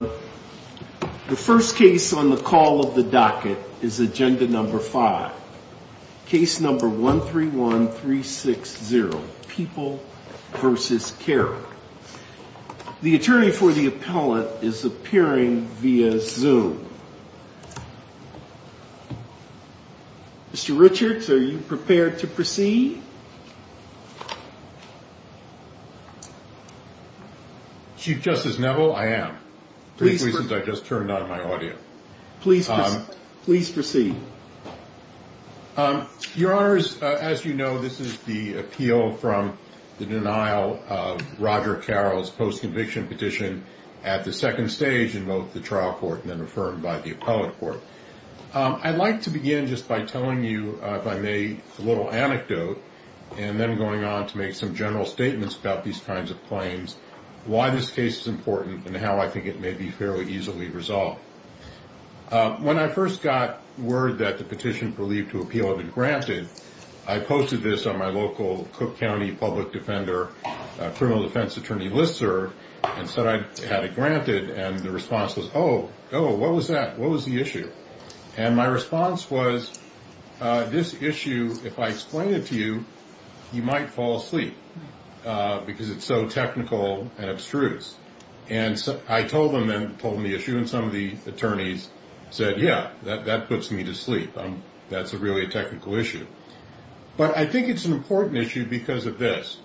The first case on the call of the docket is agenda number five, case number 131360, People v. Carroll. The attorney for the appellant is appearing via Zoom. Mr. Richards, are you prepared to proceed? Chief Justice Neville, I am, for the reasons I just turned on my audio. Please proceed. Your Honors, as you know, this is the appeal from the denial of Roger Carroll's post-conviction petition at the second stage in both the trial court and then affirmed by the appellate court. I'd like to begin just by telling you, if I may, a little anecdote, and then going on to make some general statements about these kinds of claims, why this case is important, and how I think it may be fairly easily resolved. When I first got word that the petition believed to appeal had been granted, I posted this on my local Cook County Public Defender criminal defense attorney listserv, and said I had it granted. And the response was, oh, what was that? What was the issue? And my response was, this issue, if I explain it to you, you might fall asleep because it's so technical and abstruse. And I told them the issue, and some of the attorneys said, yeah, that puts me to sleep. That's really a technical issue. But I think it's an important issue because of this.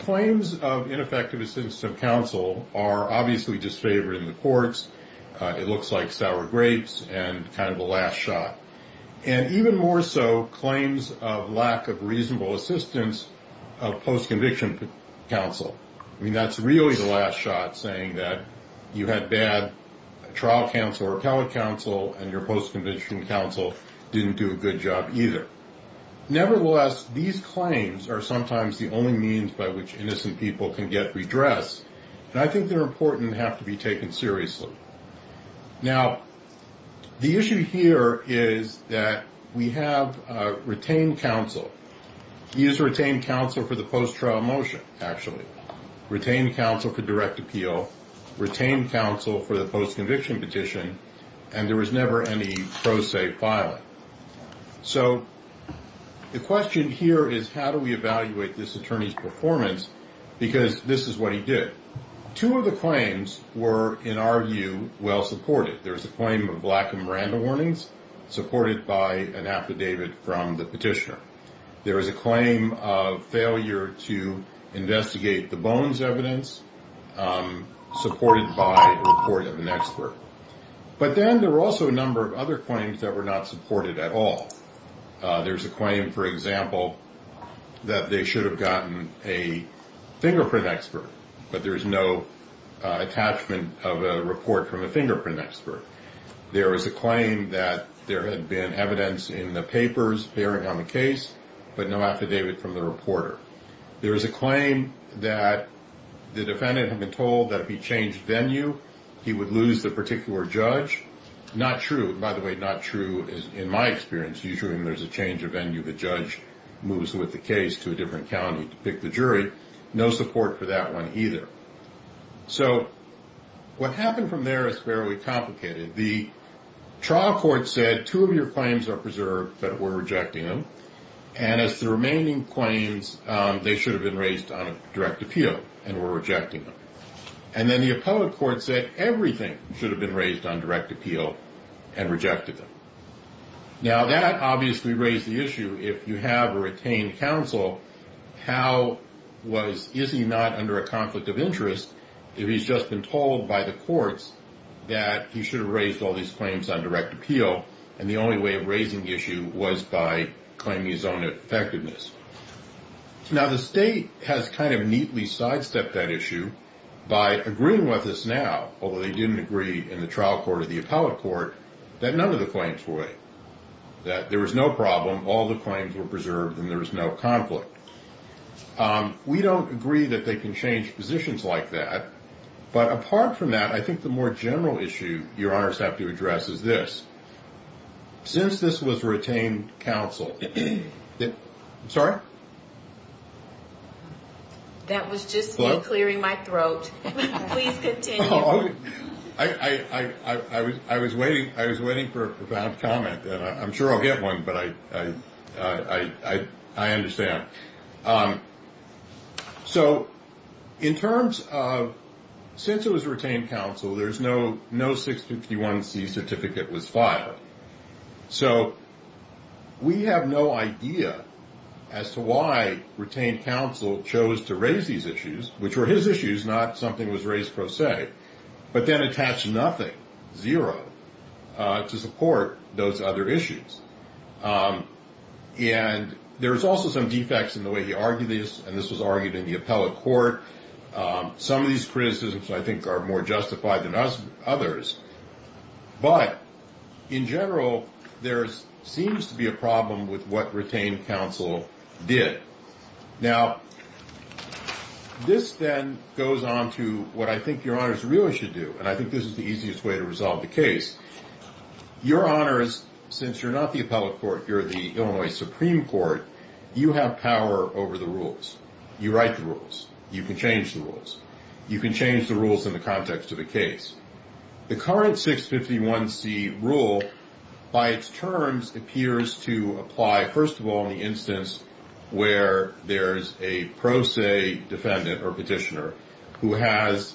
Claims of ineffective assistance of counsel are obviously disfavored in the courts. It looks like sour grapes and kind of a last shot. And even more so, claims of lack of reasonable assistance of post-conviction counsel. I mean, that's really the last shot, saying that you had bad trial counsel or appellate counsel, and your post-conviction counsel didn't do a good job either. Nevertheless, these claims are sometimes the only means by which innocent people can get redressed. And I think they're important and have to be taken seriously. Now, the issue here is that we have retained counsel. He has retained counsel for the post-trial motion, actually. Retained counsel for direct appeal. Retained counsel for the post-conviction petition. And there was never any pro se filing. So the question here is, how do we evaluate this attorney's performance? Because this is what he did. Two of the claims were, in our view, well supported. There was a claim of lack of Miranda warnings, supported by an affidavit from the petitioner. There was a claim of failure to investigate the Bones evidence, supported by a report of an expert. But then there were also a number of other claims that were not supported at all. There's a claim, for example, that they should have gotten a fingerprint expert. But there's no attachment of a report from a fingerprint expert. There is a claim that there had been evidence in the papers bearing on the case, but no affidavit from the reporter. There is a claim that the defendant had been told that if he changed venue, he would lose the particular judge. Not true. By the way, not true in my experience. Usually when there's a change of venue, the judge moves with the case to a different county to pick the jury. No support for that one either. So what happened from there is fairly complicated. The trial court said two of your claims are preserved, but we're rejecting them. And as the remaining claims, they should have been raised on a direct appeal, and we're rejecting them. And then the appellate court said everything should have been raised on direct appeal and rejected them. Now, that obviously raised the issue. If you have a retained counsel, how was – is he not under a conflict of interest if he's just been told by the courts that he should have raised all these claims on direct appeal, and the only way of raising the issue was by claiming his own effectiveness? Now, the state has kind of neatly sidestepped that issue by agreeing with us now, although they didn't agree in the trial court or the appellate court, that none of the claims would, that there was no problem, all the claims were preserved, and there was no conflict. We don't agree that they can change positions like that. But apart from that, I think the more general issue your honors have to address is this. Since this was retained counsel – sorry? That was just me clearing my throat. Please continue. I was waiting for a profound comment, and I'm sure I'll get one, but I understand. So in terms of – since it was retained counsel, there's no 651C certificate was filed. So we have no idea as to why retained counsel chose to raise these issues, which were his issues, not something that was raised pro se, but then attached nothing, zero, to support those other issues. And there's also some defects in the way he argued this, and this was argued in the appellate court. Some of these criticisms, I think, are more justified than others. But in general, there seems to be a problem with what retained counsel did. Now, this then goes on to what I think your honors really should do, and I think this is the easiest way to resolve the case. Your honors, since you're not the appellate court, you're the Illinois Supreme Court, you have power over the rules. You write the rules. You can change the rules. You can change the rules in the context of the case. The current 651C rule, by its terms, appears to apply, first of all, in the instance where there's a pro se defendant or petitioner who has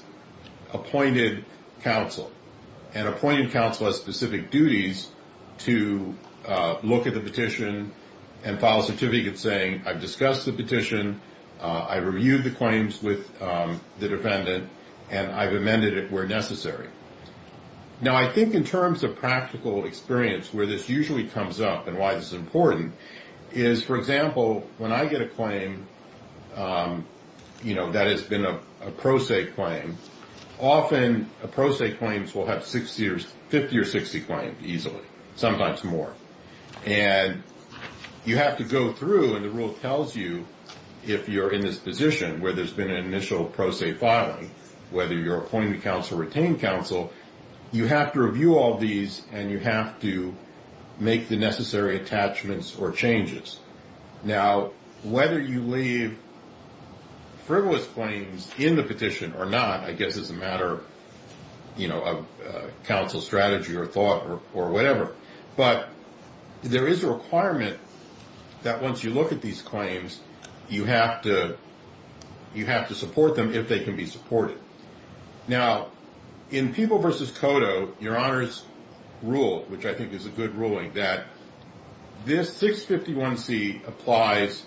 appointed counsel. An appointed counsel has specific duties to look at the petition and file a certificate saying, I've discussed the petition, I've reviewed the claims with the defendant, and I've amended it where necessary. Now, I think in terms of practical experience where this usually comes up and why this is important is, for example, when I get a claim that has been a pro se claim, often a pro se claim will have 50 or 60 claims easily, sometimes more. And you have to go through, and the rule tells you if you're in this position where there's been an initial pro se filing, whether you're appointing counsel or retained counsel, you have to review all these and you have to make the necessary attachments or changes. Now, whether you leave frivolous claims in the petition or not, I guess it's a matter of counsel strategy or thought or whatever. But there is a requirement that once you look at these claims, you have to support them if they can be supported. Now, in people versus Cotto, your honors rule, which I think is a good ruling that this 651 C applies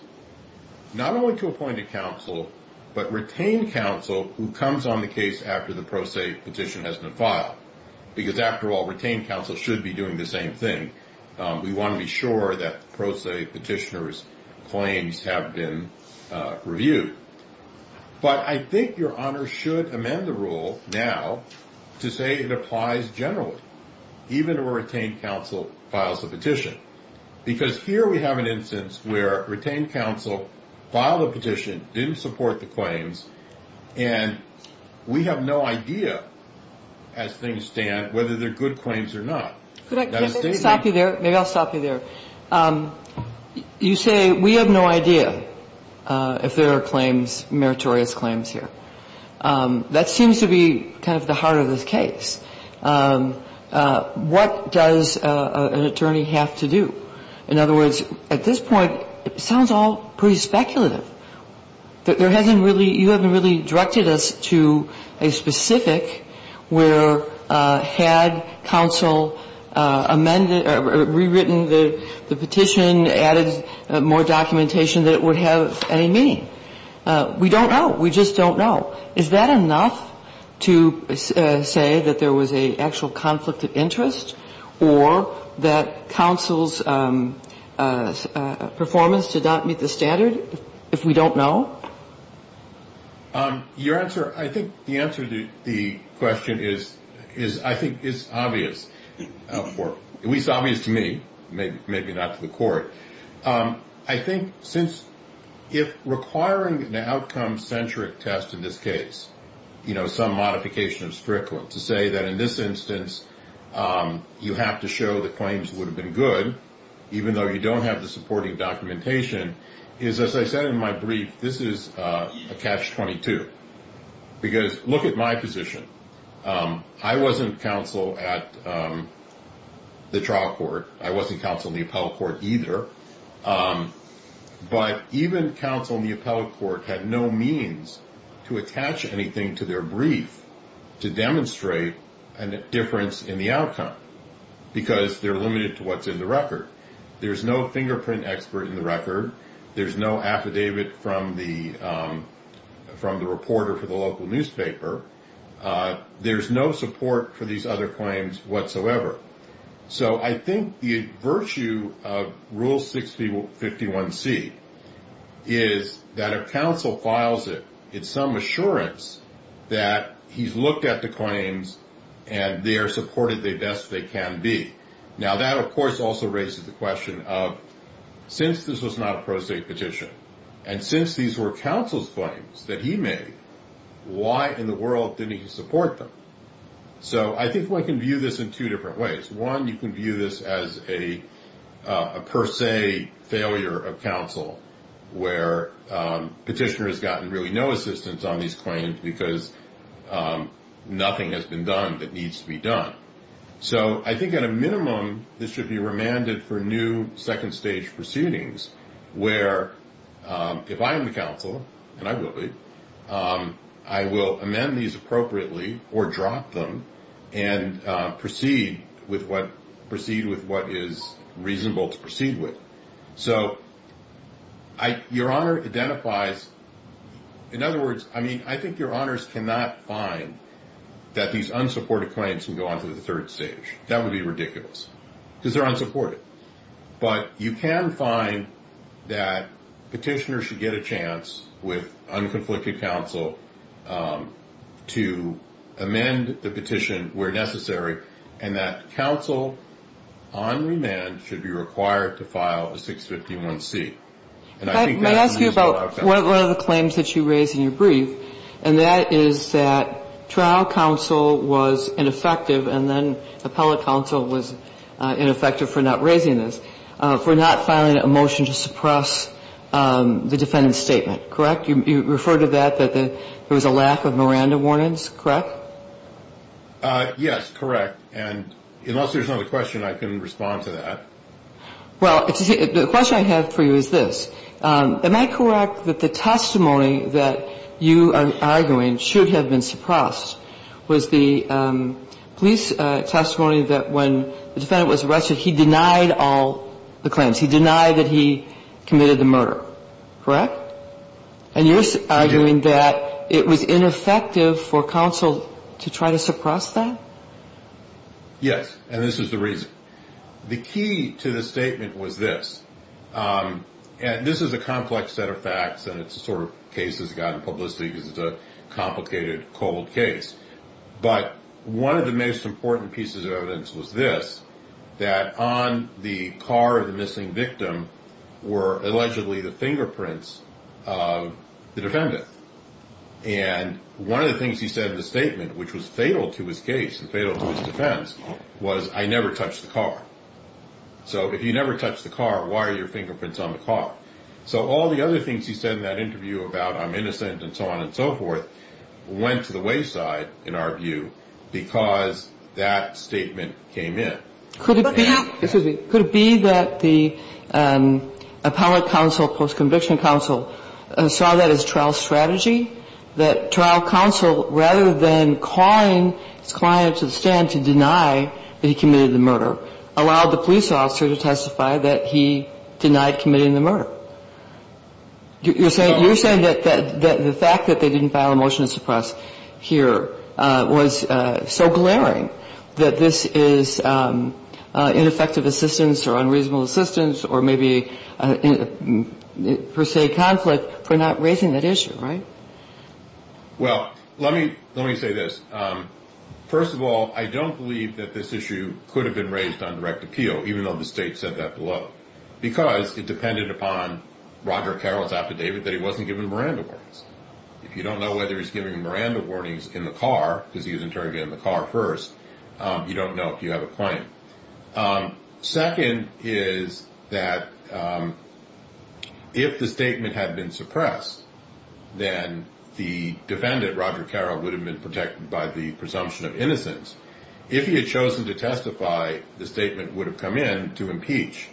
not only to appointed counsel, but retained counsel who comes on the case after the pro se petition has been filed, because after all, retained counsel should be doing the same thing. We want to be sure that pro se petitioners claims have been reviewed. But I think your honor should amend the rule now to say it applies generally, even a retained counsel files a petition, because here we have an instance where retained counsel filed a petition, didn't support the claims. And we have no idea as things stand whether they're good claims or not. I don't know if I've said this before, but I think it's important to understand the nuance of what you say. Could I stop you there? Maybe I'll stop you there. You say we have no idea if there are claims, meritorious claims here. That seems to be kind of the heart of this case. What does an attorney have to do? In other words, at this point, it sounds all pretty speculative. You haven't really directed us to a specific where had counsel rewritten the petition, added more documentation, that it would have any meaning. We don't know. We just don't know. Well, is that enough to say that there was an actual conflict of interest or that counsel's performance did not meet the standard if we don't know? Your answer, I think the answer to the question is I think is obvious, or at least obvious to me, maybe not to the court. I think since if requiring an outcome-centric test in this case, some modification of Strickland to say that in this instance you have to show the claims would have been good, even though you don't have the supporting documentation, is, as I said in my brief, this is a catch-22. Because look at my position. I wasn't counsel at the trial court. I wasn't counsel in the appellate court either. But even counsel in the appellate court had no means to attach anything to their brief to demonstrate a difference in the outcome, because they're limited to what's in the record. There's no fingerprint expert in the record. There's no affidavit from the reporter for the local newspaper. There's no support for these other claims whatsoever. So I think the virtue of Rule 6051C is that if counsel files it, it's some assurance that he's looked at the claims and they are supported the best they can be. Now, that, of course, also raises the question of since this was not a pro se petition, and since these were counsel's claims that he made, why in the world didn't he support them? So I think one can view this in two different ways. One, you can view this as a per se failure of counsel, where petitioner has gotten really no assistance on these claims because nothing has been done that needs to be done. So I think at a minimum, this should be remanded for new second-stage proceedings, where if I am the counsel, and I will be, I will amend these appropriately or drop them and proceed with what is reasonable to proceed with. So your Honor identifies, in other words, I think your Honors cannot find that these unsupported claims can go on to the third stage. That would be ridiculous, because they're unsupported. But you can find that petitioner should get a chance with unconflicted counsel to amend the petition where necessary, and that counsel on remand should be required to file a 651C. And I think that's reasonable. Let me ask you about one of the claims that you raised in your brief, and that is that trial counsel was ineffective, and then appellate counsel was ineffective for not raising this, for not filing a motion to suppress the defendant's statement, correct? You referred to that, that there was a lack of Miranda warnings, correct? Yes, correct. And unless there's another question, I can respond to that. Well, the question I have for you is this. Am I correct that the testimony that you are arguing should have been suppressed was the police testimony that when the defendant was arrested, he denied all the claims? He denied that he committed the murder, correct? And you're arguing that it was ineffective for counsel to try to suppress that? Yes, and this is the reason. The key to the statement was this, and this is a complex set of facts, and it's the sort of case that's gotten publicity because it's a complicated, cold case. But one of the most important pieces of evidence was this, that on the car of the missing victim were allegedly the fingerprints of the defendant. And one of the things he said in the statement, which was fatal to his case and fatal to his defense, was, I never touched the car. So if you never touched the car, why are your fingerprints on the car? So all the other things he said in that interview about I'm innocent and so on and so forth went to the wayside, in our view, because that statement came in. Could it be that the appellate counsel, post-conviction counsel, saw that as trial strategy, that trial counsel, rather than calling his client to the stand to deny that he committed the murder, allowed the police officer to testify that he denied committing the murder? You're saying that the fact that they didn't file a motion to suppress here was so glaring that this is ineffective assistance or unreasonable assistance or maybe per se conflict for not raising that issue, right? Well, let me say this. First of all, I don't believe that this issue could have been raised on direct appeal, even though the state said that below, because it depended upon Roger Carroll's affidavit that he wasn't given Miranda warnings. If you don't know whether he's giving Miranda warnings in the car, because he was interviewed in the car first, you don't know if you have a claim. Second is that if the statement had been suppressed, then the defendant, Roger Carroll, would have been protected by the presumption of innocence. If he had chosen to testify, the statement would have come in to impeach.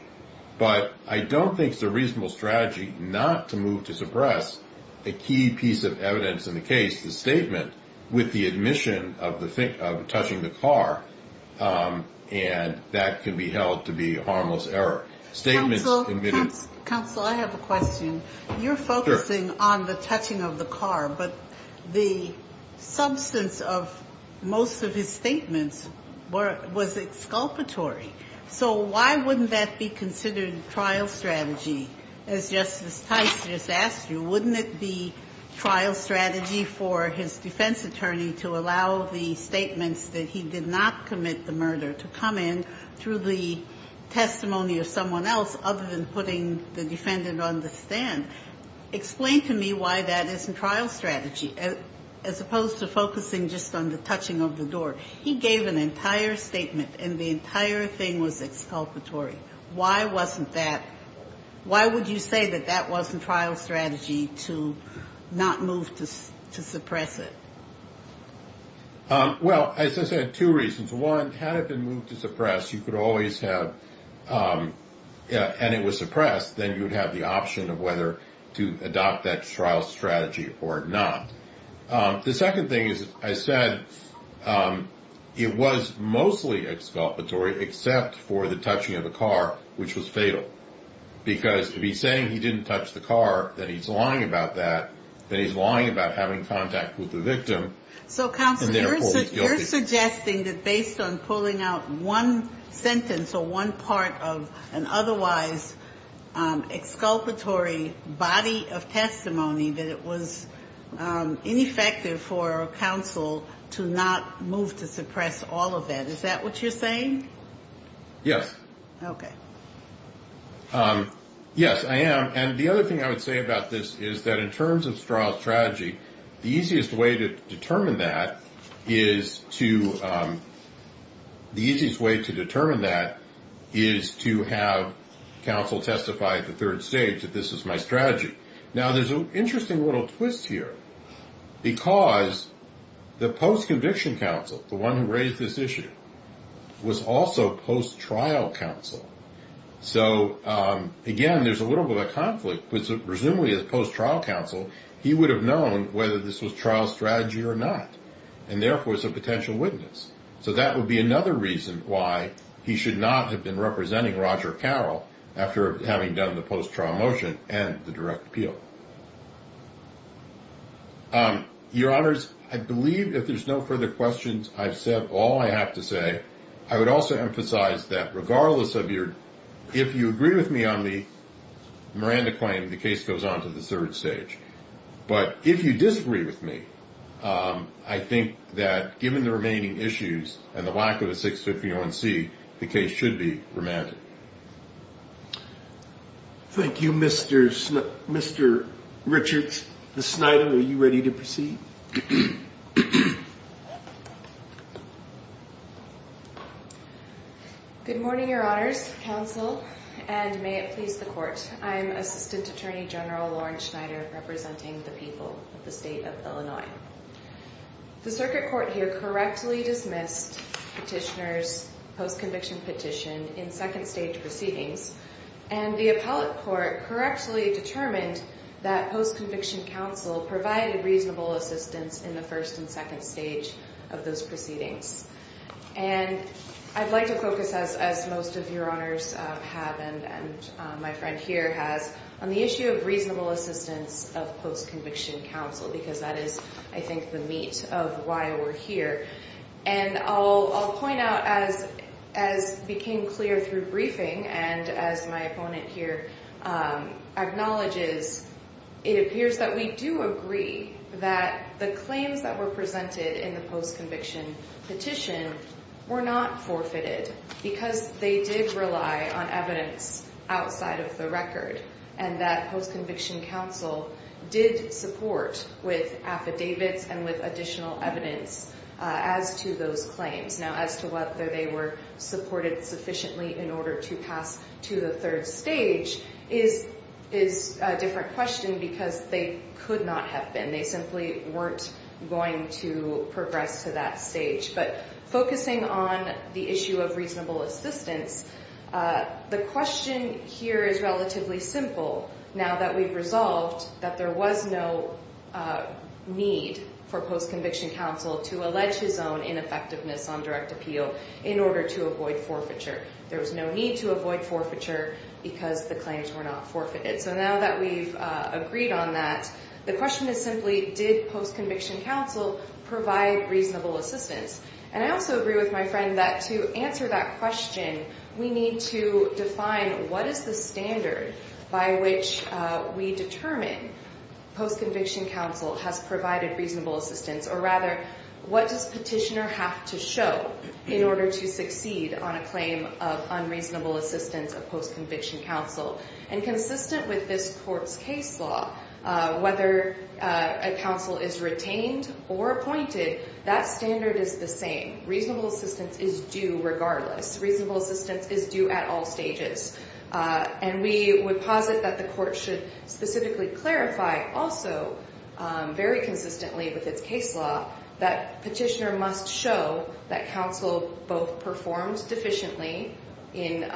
But I don't think it's a reasonable strategy not to move to suppress a key piece of evidence in the case, the statement, with the admission of touching the car. And that can be held to be a harmless error. Statements admitted— Counsel, I have a question. You're focusing on the touching of the car, but the substance of most of his statements was exculpatory. So why wouldn't that be considered a trial strategy, as Justice Tice just asked you? Wouldn't it be trial strategy for his defense attorney to allow the statements that he did not commit the murder to come in through the testimony of someone else, other than putting the defendant on the stand? Explain to me why that isn't trial strategy, as opposed to focusing just on the touching of the door. He gave an entire statement, and the entire thing was exculpatory. Why wasn't that—why would you say that that wasn't trial strategy to not move to suppress it? Well, as I said, two reasons. One, had it been moved to suppress, you could always have—and it was suppressed, then you would have the option of whether to adopt that trial strategy or not. The second thing is, I said it was mostly exculpatory, except for the touching of the car, which was fatal. Because if he's saying he didn't touch the car, that he's lying about that, then he's lying about having contact with the victim. So, Counsel, you're suggesting that based on pulling out one sentence or one part of an otherwise exculpatory body of testimony, that it was ineffective for Counsel to not move to suppress all of that. Is that what you're saying? Yes. Okay. Yes, I am. And the other thing I would say about this is that in terms of trial strategy, the easiest way to determine that is to have Counsel testify at the third stage that this is my strategy. Now, there's an interesting little twist here, because the post-conviction Counsel, the one who raised this issue, was also post-trial Counsel. So, again, there's a little bit of a conflict, because presumably as post-trial Counsel, he would have known whether this was trial strategy or not, and therefore is a potential witness. So that would be another reason why he should not have been representing Roger Carroll after having done the post-trial motion and the direct appeal. Your Honors, I believe if there's no further questions, I've said all I have to say. I would also emphasize that regardless of your ‑‑ if you agree with me on the Miranda claim, the case goes on to the third stage. But if you disagree with me, I think that given the remaining issues and the lack of a 651C, the case should be remanded. Thank you, Mr. Richards. Ms. Snyder, are you ready to proceed? Good morning, Your Honors, Counsel, and may it please the Court. I'm Assistant Attorney General Lauren Snyder, representing the people of the State of Illinois. The Circuit Court here correctly dismissed Petitioner's post-conviction petition in second stage proceedings, and the appellate court correctly determined that post-conviction counsel provided reasonable assistance in the first and second stage of those proceedings. And I'd like to focus, as most of your Honors have and my friend here has, on the issue of reasonable assistance of post-conviction counsel, because that is, I think, the meat of why we're here. And I'll point out, as became clear through briefing and as my opponent here acknowledges, it appears that we do agree that the claims that were presented in the post-conviction petition were not forfeited, because they did rely on evidence outside of the record, and that post-conviction counsel did support with affidavits and with additional evidence as to those claims. Now, as to whether they were supported sufficiently in order to pass to the third stage is a different question, because they could not have been. They simply weren't going to progress to that stage. But focusing on the issue of reasonable assistance, the question here is relatively simple, now that we've resolved that there was no need for post-conviction counsel to allege his own ineffectiveness on direct appeal in order to avoid forfeiture. There was no need to avoid forfeiture because the claims were not forfeited. So now that we've agreed on that, the question is simply, did post-conviction counsel provide reasonable assistance? And I also agree with my friend that to answer that question, we need to define what is the standard by which we determine post-conviction counsel has provided reasonable assistance, or rather, what does petitioner have to show in order to succeed on a claim of unreasonable assistance of post-conviction counsel? And consistent with this court's case law, whether a counsel is retained or appointed, that standard is the same. Reasonable assistance is due regardless. Reasonable assistance is due at all stages. And we would posit that the court should specifically clarify also, very consistently with its case law, that petitioner must show that counsel both performed deficiently in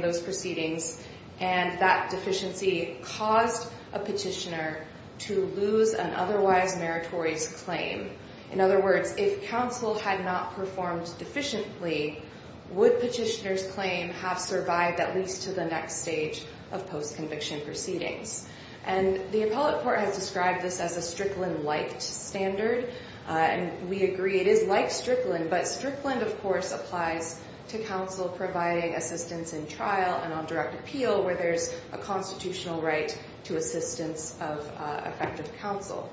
those proceedings, and that deficiency caused a petitioner to lose an otherwise meritorious claim. In other words, if counsel had not performed deficiently, would petitioner's claim have survived at least to the next stage of post-conviction proceedings? And the appellate court has described this as a Strickland-like standard, and we agree it is like Strickland. But Strickland, of course, applies to counsel providing assistance in trial and on direct appeal, where there's a constitutional right to assistance of effective counsel.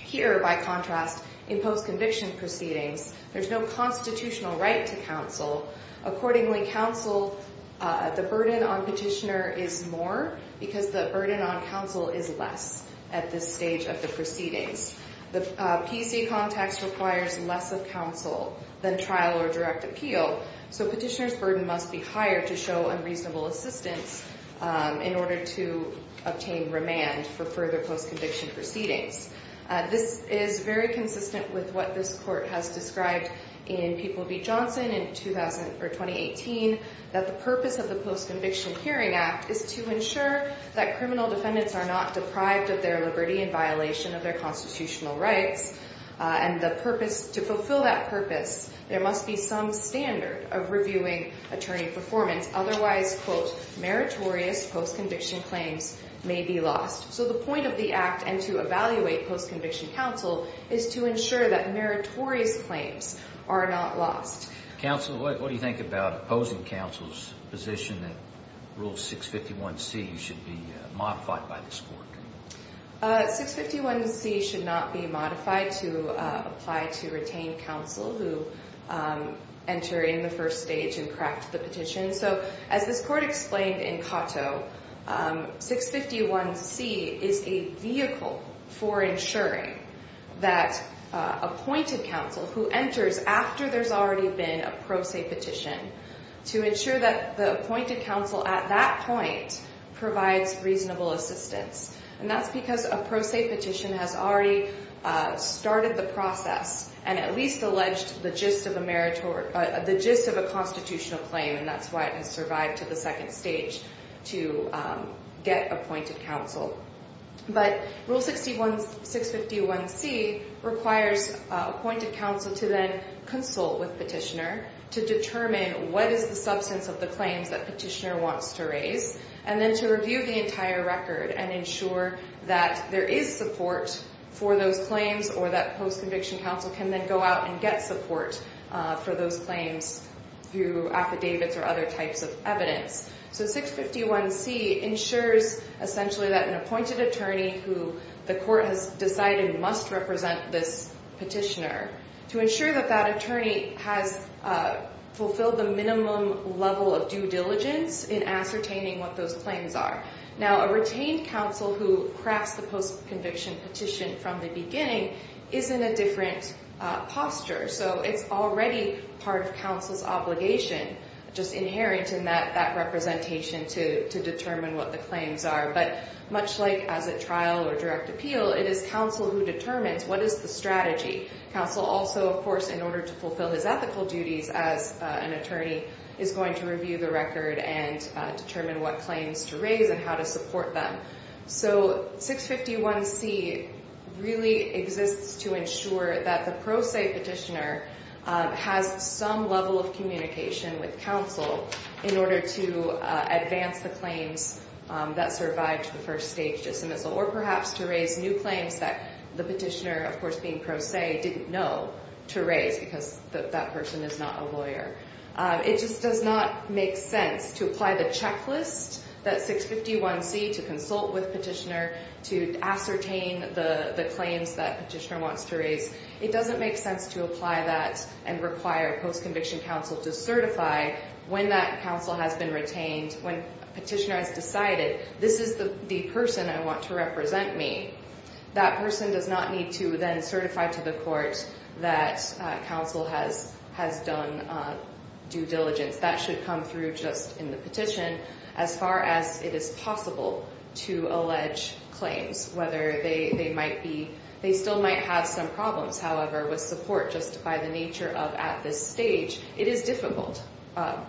Here, by contrast, in post-conviction proceedings, there's no constitutional right to counsel. Accordingly, counsel, the burden on petitioner is more because the burden on counsel is less at this stage of the proceedings. The PC context requires less of counsel than trial or direct appeal, so petitioner's burden must be higher to show unreasonable assistance in order to obtain remand for further post-conviction proceedings. This is very consistent with what this court has described in People v. Johnson in 2018, that the purpose of the Post-Conviction Hearing Act is to ensure that criminal defendants are not deprived of their liberty in violation of their constitutional rights. And to fulfill that purpose, there must be some standard of reviewing attorney performance. Otherwise, quote, meritorious post-conviction claims may be lost. So the point of the act and to evaluate post-conviction counsel is to ensure that meritorious claims are not lost. Counsel, what do you think about opposing counsel's position that Rule 651C should be modified by this court? 651C should not be modified to apply to retained counsel who enter in the first stage and craft the petition. So as this court explained in Cotto, 651C is a vehicle for ensuring that appointed counsel, who enters after there's already been a pro se petition, to ensure that the appointed counsel at that point provides reasonable assistance. And that's because a pro se petition has already started the process and at least alleged the gist of a constitutional claim, and that's why it has survived to the second stage to get appointed counsel. But Rule 651C requires appointed counsel to then consult with petitioner to determine what is the substance of the claims that petitioner wants to raise, and then to review the entire record and ensure that there is support for those claims, or that post-conviction counsel can then go out and get support for those claims through affidavits or other types of evidence. So 651C ensures essentially that an appointed attorney who the court has decided must represent this petitioner, to ensure that that attorney has fulfilled the minimum level of due diligence in ascertaining what those claims are. Now, a retained counsel who crafts the post-conviction petition from the beginning is in a different posture. So it's already part of counsel's obligation, just inherent in that representation to determine what the claims are. But much like as a trial or direct appeal, it is counsel who determines what is the strategy. Counsel also, of course, in order to fulfill his ethical duties as an attorney, is going to review the record and determine what claims to raise and how to support them. So 651C really exists to ensure that the pro se petitioner has some level of communication with counsel in order to advance the claims that survived to the first stage dismissal, or perhaps to raise new claims that the petitioner, of course, being pro se, didn't know to raise because that person is not a lawyer. It just does not make sense to apply the checklist that 651C to consult with petitioner to ascertain the claims that petitioner wants to raise. It doesn't make sense to apply that and require post-conviction counsel to certify when that counsel has been retained, when petitioner has decided, this is the person I want to represent me. That person does not need to then certify to the court that counsel has done due diligence. That should come through just in the petition. As far as it is possible to allege claims, whether they might be, they still might have some problems, however, with support just by the nature of at this stage, it is difficult,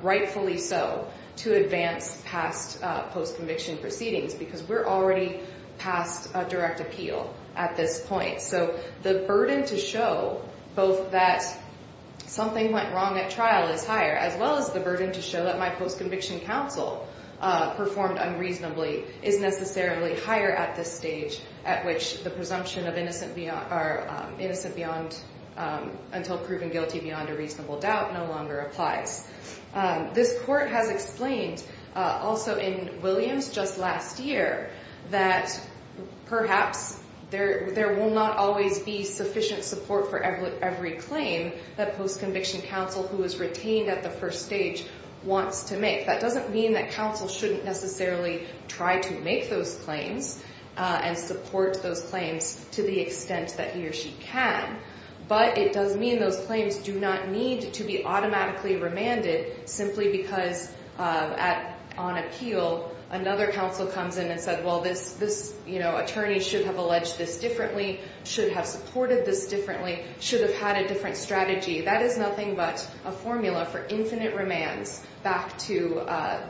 rightfully so, to advance past post-conviction proceedings because we're already past direct appeal at this point. So the burden to show both that something went wrong at trial is higher, as well as the burden to show that my post-conviction counsel performed unreasonably is necessarily higher at this stage, at which the presumption of innocent beyond until proven guilty beyond a reasonable doubt no longer applies. This court has explained also in Williams just last year that perhaps there will not always be sufficient support for every claim that post-conviction counsel who is retained at the first stage wants to make. That doesn't mean that counsel shouldn't necessarily try to make those claims and support those claims to the extent that he or she can, but it does mean those claims do not need to be automatically remanded simply because on appeal, another counsel comes in and said, well, this attorney should have alleged this differently, should have supported this differently, should have had a different strategy. That is nothing but a formula for infinite remands back to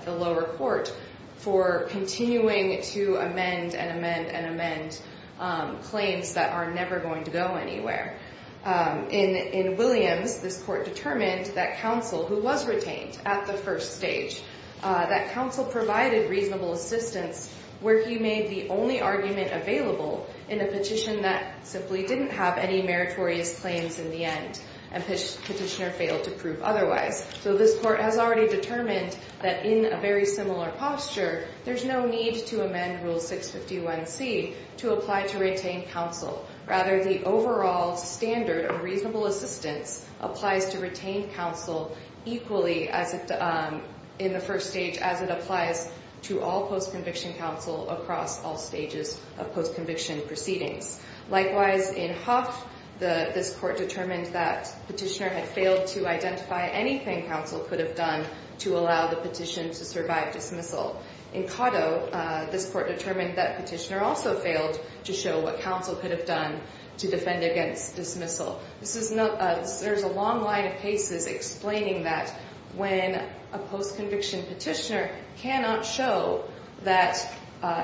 the lower court for continuing to amend and amend and amend claims that are never going to go anywhere. In Williams, this court determined that counsel who was retained at the first stage, that counsel provided reasonable assistance where he made the only argument available in a petition that simply didn't have any meritorious claims in the end and petitioner failed to prove otherwise. So this court has already determined that in a very similar posture, there's no need to amend Rule 651C to apply to retain counsel. Rather, the overall standard of reasonable assistance applies to retain counsel equally in the first stage as it applies to all post-conviction counsel across all stages of post-conviction proceedings. Likewise, in Hough, this court determined that petitioner had failed to identify anything counsel could have done to allow the petition to survive dismissal. In Cotto, this court determined that petitioner also failed to show what counsel could have done to defend against dismissal. There's a long line of cases explaining that when a post-conviction petitioner cannot show that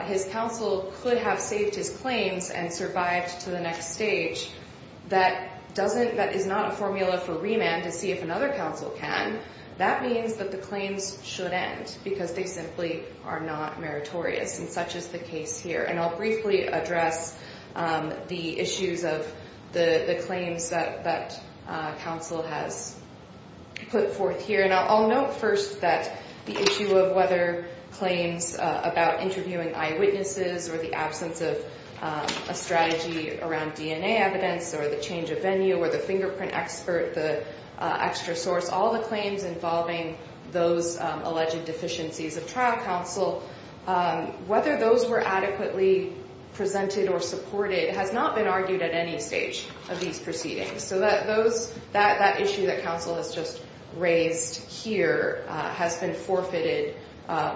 his counsel could have saved his claims and survived to the next stage, that is not a formula for remand to see if another counsel can. That means that the claims should end because they simply are not meritorious, and such is the case here. And I'll briefly address the issues of the claims that counsel has put forth here. And I'll note first that the issue of whether claims about interviewing eyewitnesses or the absence of a strategy around DNA evidence or the change of venue or the fingerprint expert, the extra source, all the claims involving those alleged deficiencies of trial counsel, whether those were adequately presented or supported has not been argued at any stage of these proceedings. So that issue that counsel has just raised here has been forfeited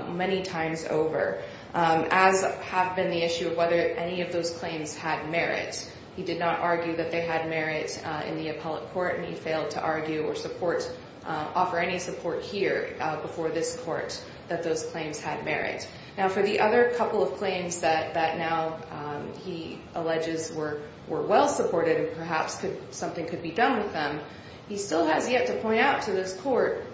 many times over, as have been the issue of whether any of those claims had merit. He did not argue that they had merit in the appellate court, and he failed to argue or offer any support here before this court that those claims had merit. Now, for the other couple of claims that now he alleges were well-supported and perhaps something could be done with them, he still has yet to point out to this court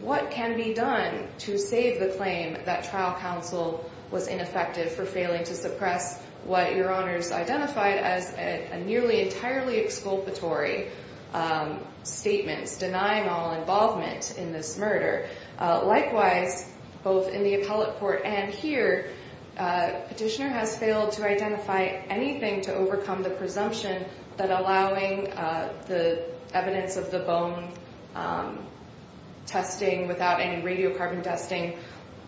what can be done to save the claim that trial counsel was ineffective for failing to suppress what Your Honors identified as a nearly entirely exculpatory statement, denying all involvement in this murder. Likewise, both in the appellate court and here, Petitioner has failed to identify anything to overcome the presumption that allowing the evidence of the bone testing without any radiocarbon testing,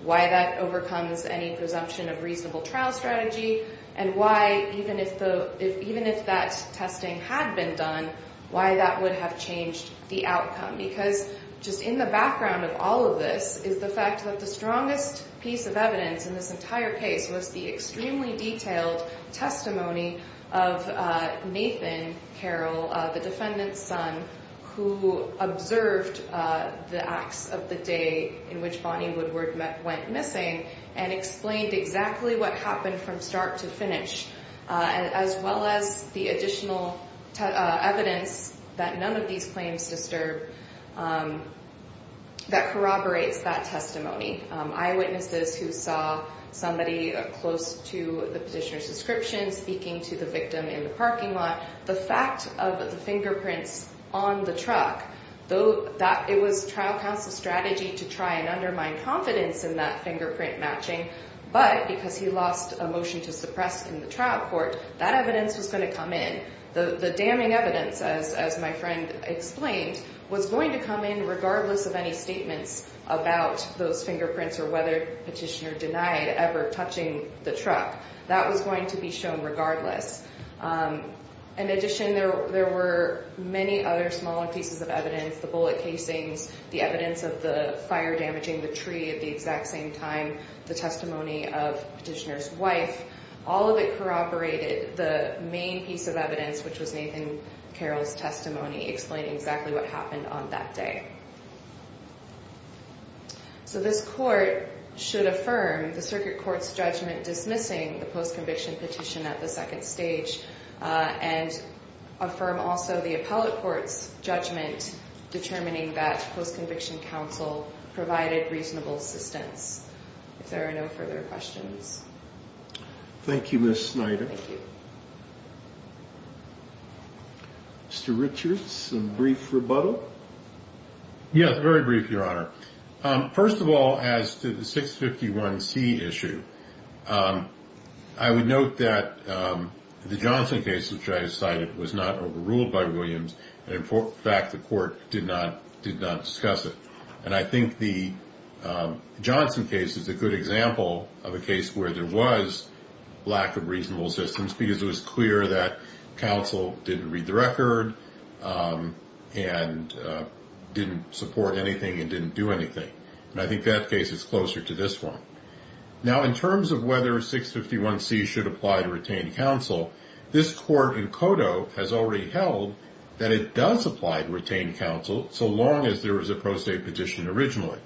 why that overcomes any presumption of reasonable trial strategy, and why even if that testing had been done, why that would have changed the outcome. Because just in the background of all of this is the fact that the strongest piece of evidence in this entire case was the extremely detailed testimony of Nathan Carroll, the defendant's son, who observed the acts of the day in which Bonnie Woodward went missing and explained exactly what happened from start to finish, as well as the additional evidence that none of these claims disturb that corroborates that testimony. Eyewitnesses who saw somebody close to the Petitioner's description speaking to the victim in the parking lot. The fact of the fingerprints on the truck, it was trial counsel's strategy to try and undermine confidence in that fingerprint matching, but because he lost a motion to suppress in the trial court, that evidence was going to come in. The damning evidence, as my friend explained, was going to come in regardless of any statements about those fingerprints or whether Petitioner denied ever touching the truck. That was going to be shown regardless. In addition, there were many other smaller pieces of evidence, the bullet casings, the evidence of the fire damaging the tree at the exact same time, the testimony of Petitioner's wife. All of it corroborated the main piece of evidence, which was Nathan Carroll's testimony explaining exactly what happened on that day. So this court should affirm the circuit court's judgment dismissing the post-conviction petition at the second stage and affirm also the appellate court's judgment determining that post-conviction counsel provided reasonable assistance. If there are no further questions. Thank you, Ms. Snyder. Thank you. Mr. Richards, some brief rebuttal? Yes, very brief, Your Honor. First of all, as to the 651C issue, I would note that the Johnson case, which I cited, was not overruled by Williams. In fact, the court did not discuss it. And I think the Johnson case is a good example of a case where there was lack of reasonable assistance because it was clear that counsel didn't read the record and didn't support anything and didn't do anything. And I think that case is closer to this one. Now, in terms of whether 651C should apply to retained counsel, this court in Cotto has already held that it does apply to retained counsel so long as there was a pro se petition originally.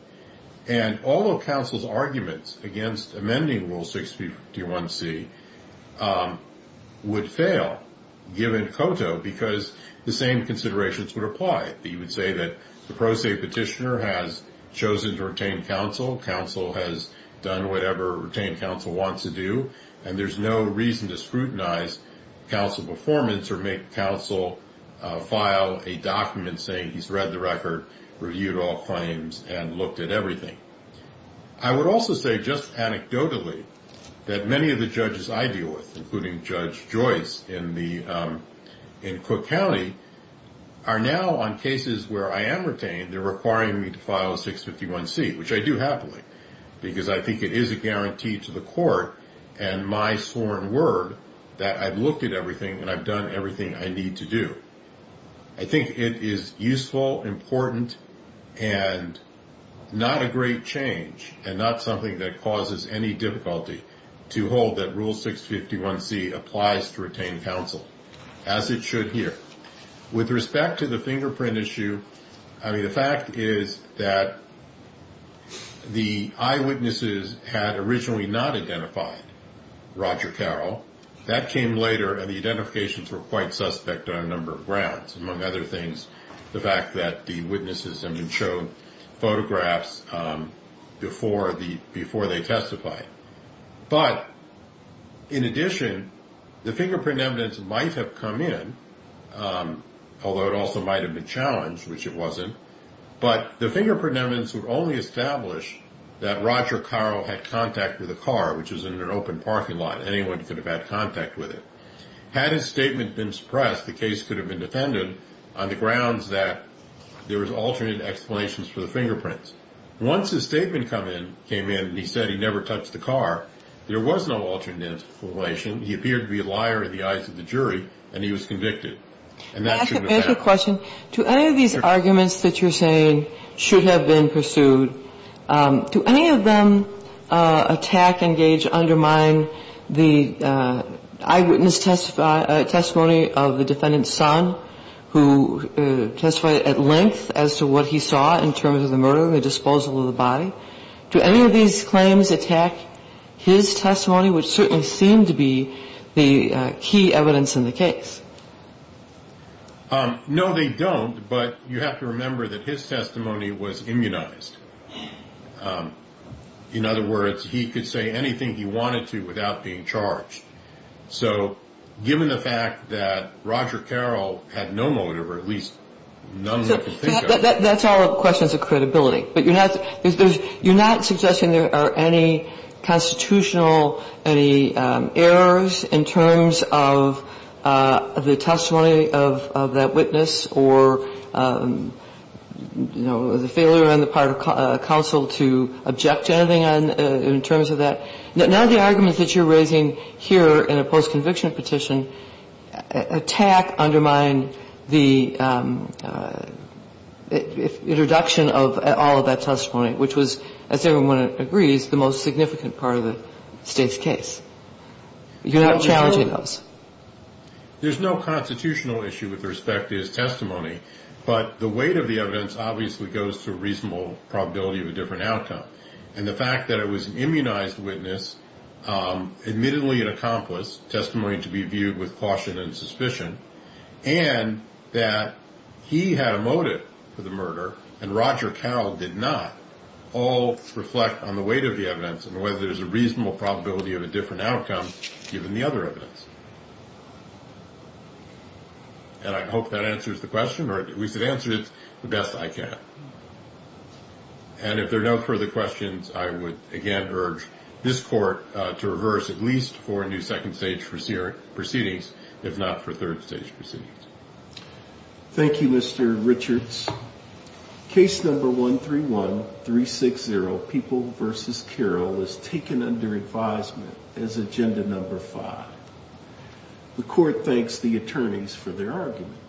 And all of counsel's arguments against amending Rule 651C would fail given Cotto because the same considerations would apply. You would say that the pro se petitioner has chosen to retain counsel. Counsel has done whatever retained counsel wants to do. And there's no reason to scrutinize counsel performance or make counsel file a document saying he's read the record, reviewed all claims, and looked at everything. I would also say just anecdotally that many of the judges I deal with, including Judge Joyce in Cook County, are now on cases where I am retained, they're requiring me to file a 651C, which I do happily, because I think it is a guarantee to the court and my sworn word that I've looked at everything and I've done everything I need to do. I think it is useful, important, and not a great change, and not something that causes any difficulty to hold that Rule 651C applies to retained counsel, as it should here. With respect to the fingerprint issue, I mean, the fact is that the eyewitnesses had originally not identified Roger Carroll. That came later, and the identifications were quite suspect on a number of grounds, among other things, the fact that the witnesses had been shown photographs before they testified. But in addition, the fingerprint evidence might have come in, although it also might have been challenged, which it wasn't, but the fingerprint evidence would only establish that Roger Carroll had contact with a car, which was in an open parking lot. Anyone could have had contact with it. Had his statement been suppressed, the case could have been defended on the grounds that there was alternate explanations for the fingerprints. Once his statement came in and he said he never touched the car, there was no alternate explanation. He appeared to be a liar in the eyes of the jury, and he was convicted. And that should have happened. Can I ask a question? Do any of these arguments that you're saying should have been pursued, do any of them attack, engage, undermine the eyewitness testimony of the defendant's son, who testified at length as to what he saw in terms of the murder and the disposal of the body? Do any of these claims attack his testimony, which certainly seemed to be the key evidence in the case? No, they don't. But you have to remember that his testimony was immunized. In other words, he could say anything he wanted to without being charged. So given the fact that Roger Carroll had no motive or at least none who could think of it. That's all questions of credibility. But you're not suggesting there are any constitutional, any errors in terms of the testimony of that witness or, you know, the failure on the part of counsel to object to anything in terms of that? None of the arguments that you're raising here in a post-conviction petition attack, undermine the introduction of all of that testimony, which was, as everyone agrees, the most significant part of the State's case. You're not challenging those? There's no constitutional issue with respect to his testimony. But the weight of the evidence obviously goes to reasonable probability of a different outcome. And the fact that it was an immunized witness, admittedly an accomplice, testimony to be viewed with caution and suspicion, and that he had a motive for the murder and Roger Carroll did not, all reflect on the weight of the evidence and whether there's a reasonable probability of a different outcome given the other evidence. And I hope that answers the question, or at least it answers it the best I can. And if there are no further questions, I would again urge this court to reverse at least for a new second stage proceedings, if not for third stage proceedings. Thank you, Mr. Richards. Case number 131360, People v. Carroll, is taken under advisement as agenda number five. The court thanks the attorneys for their arguments.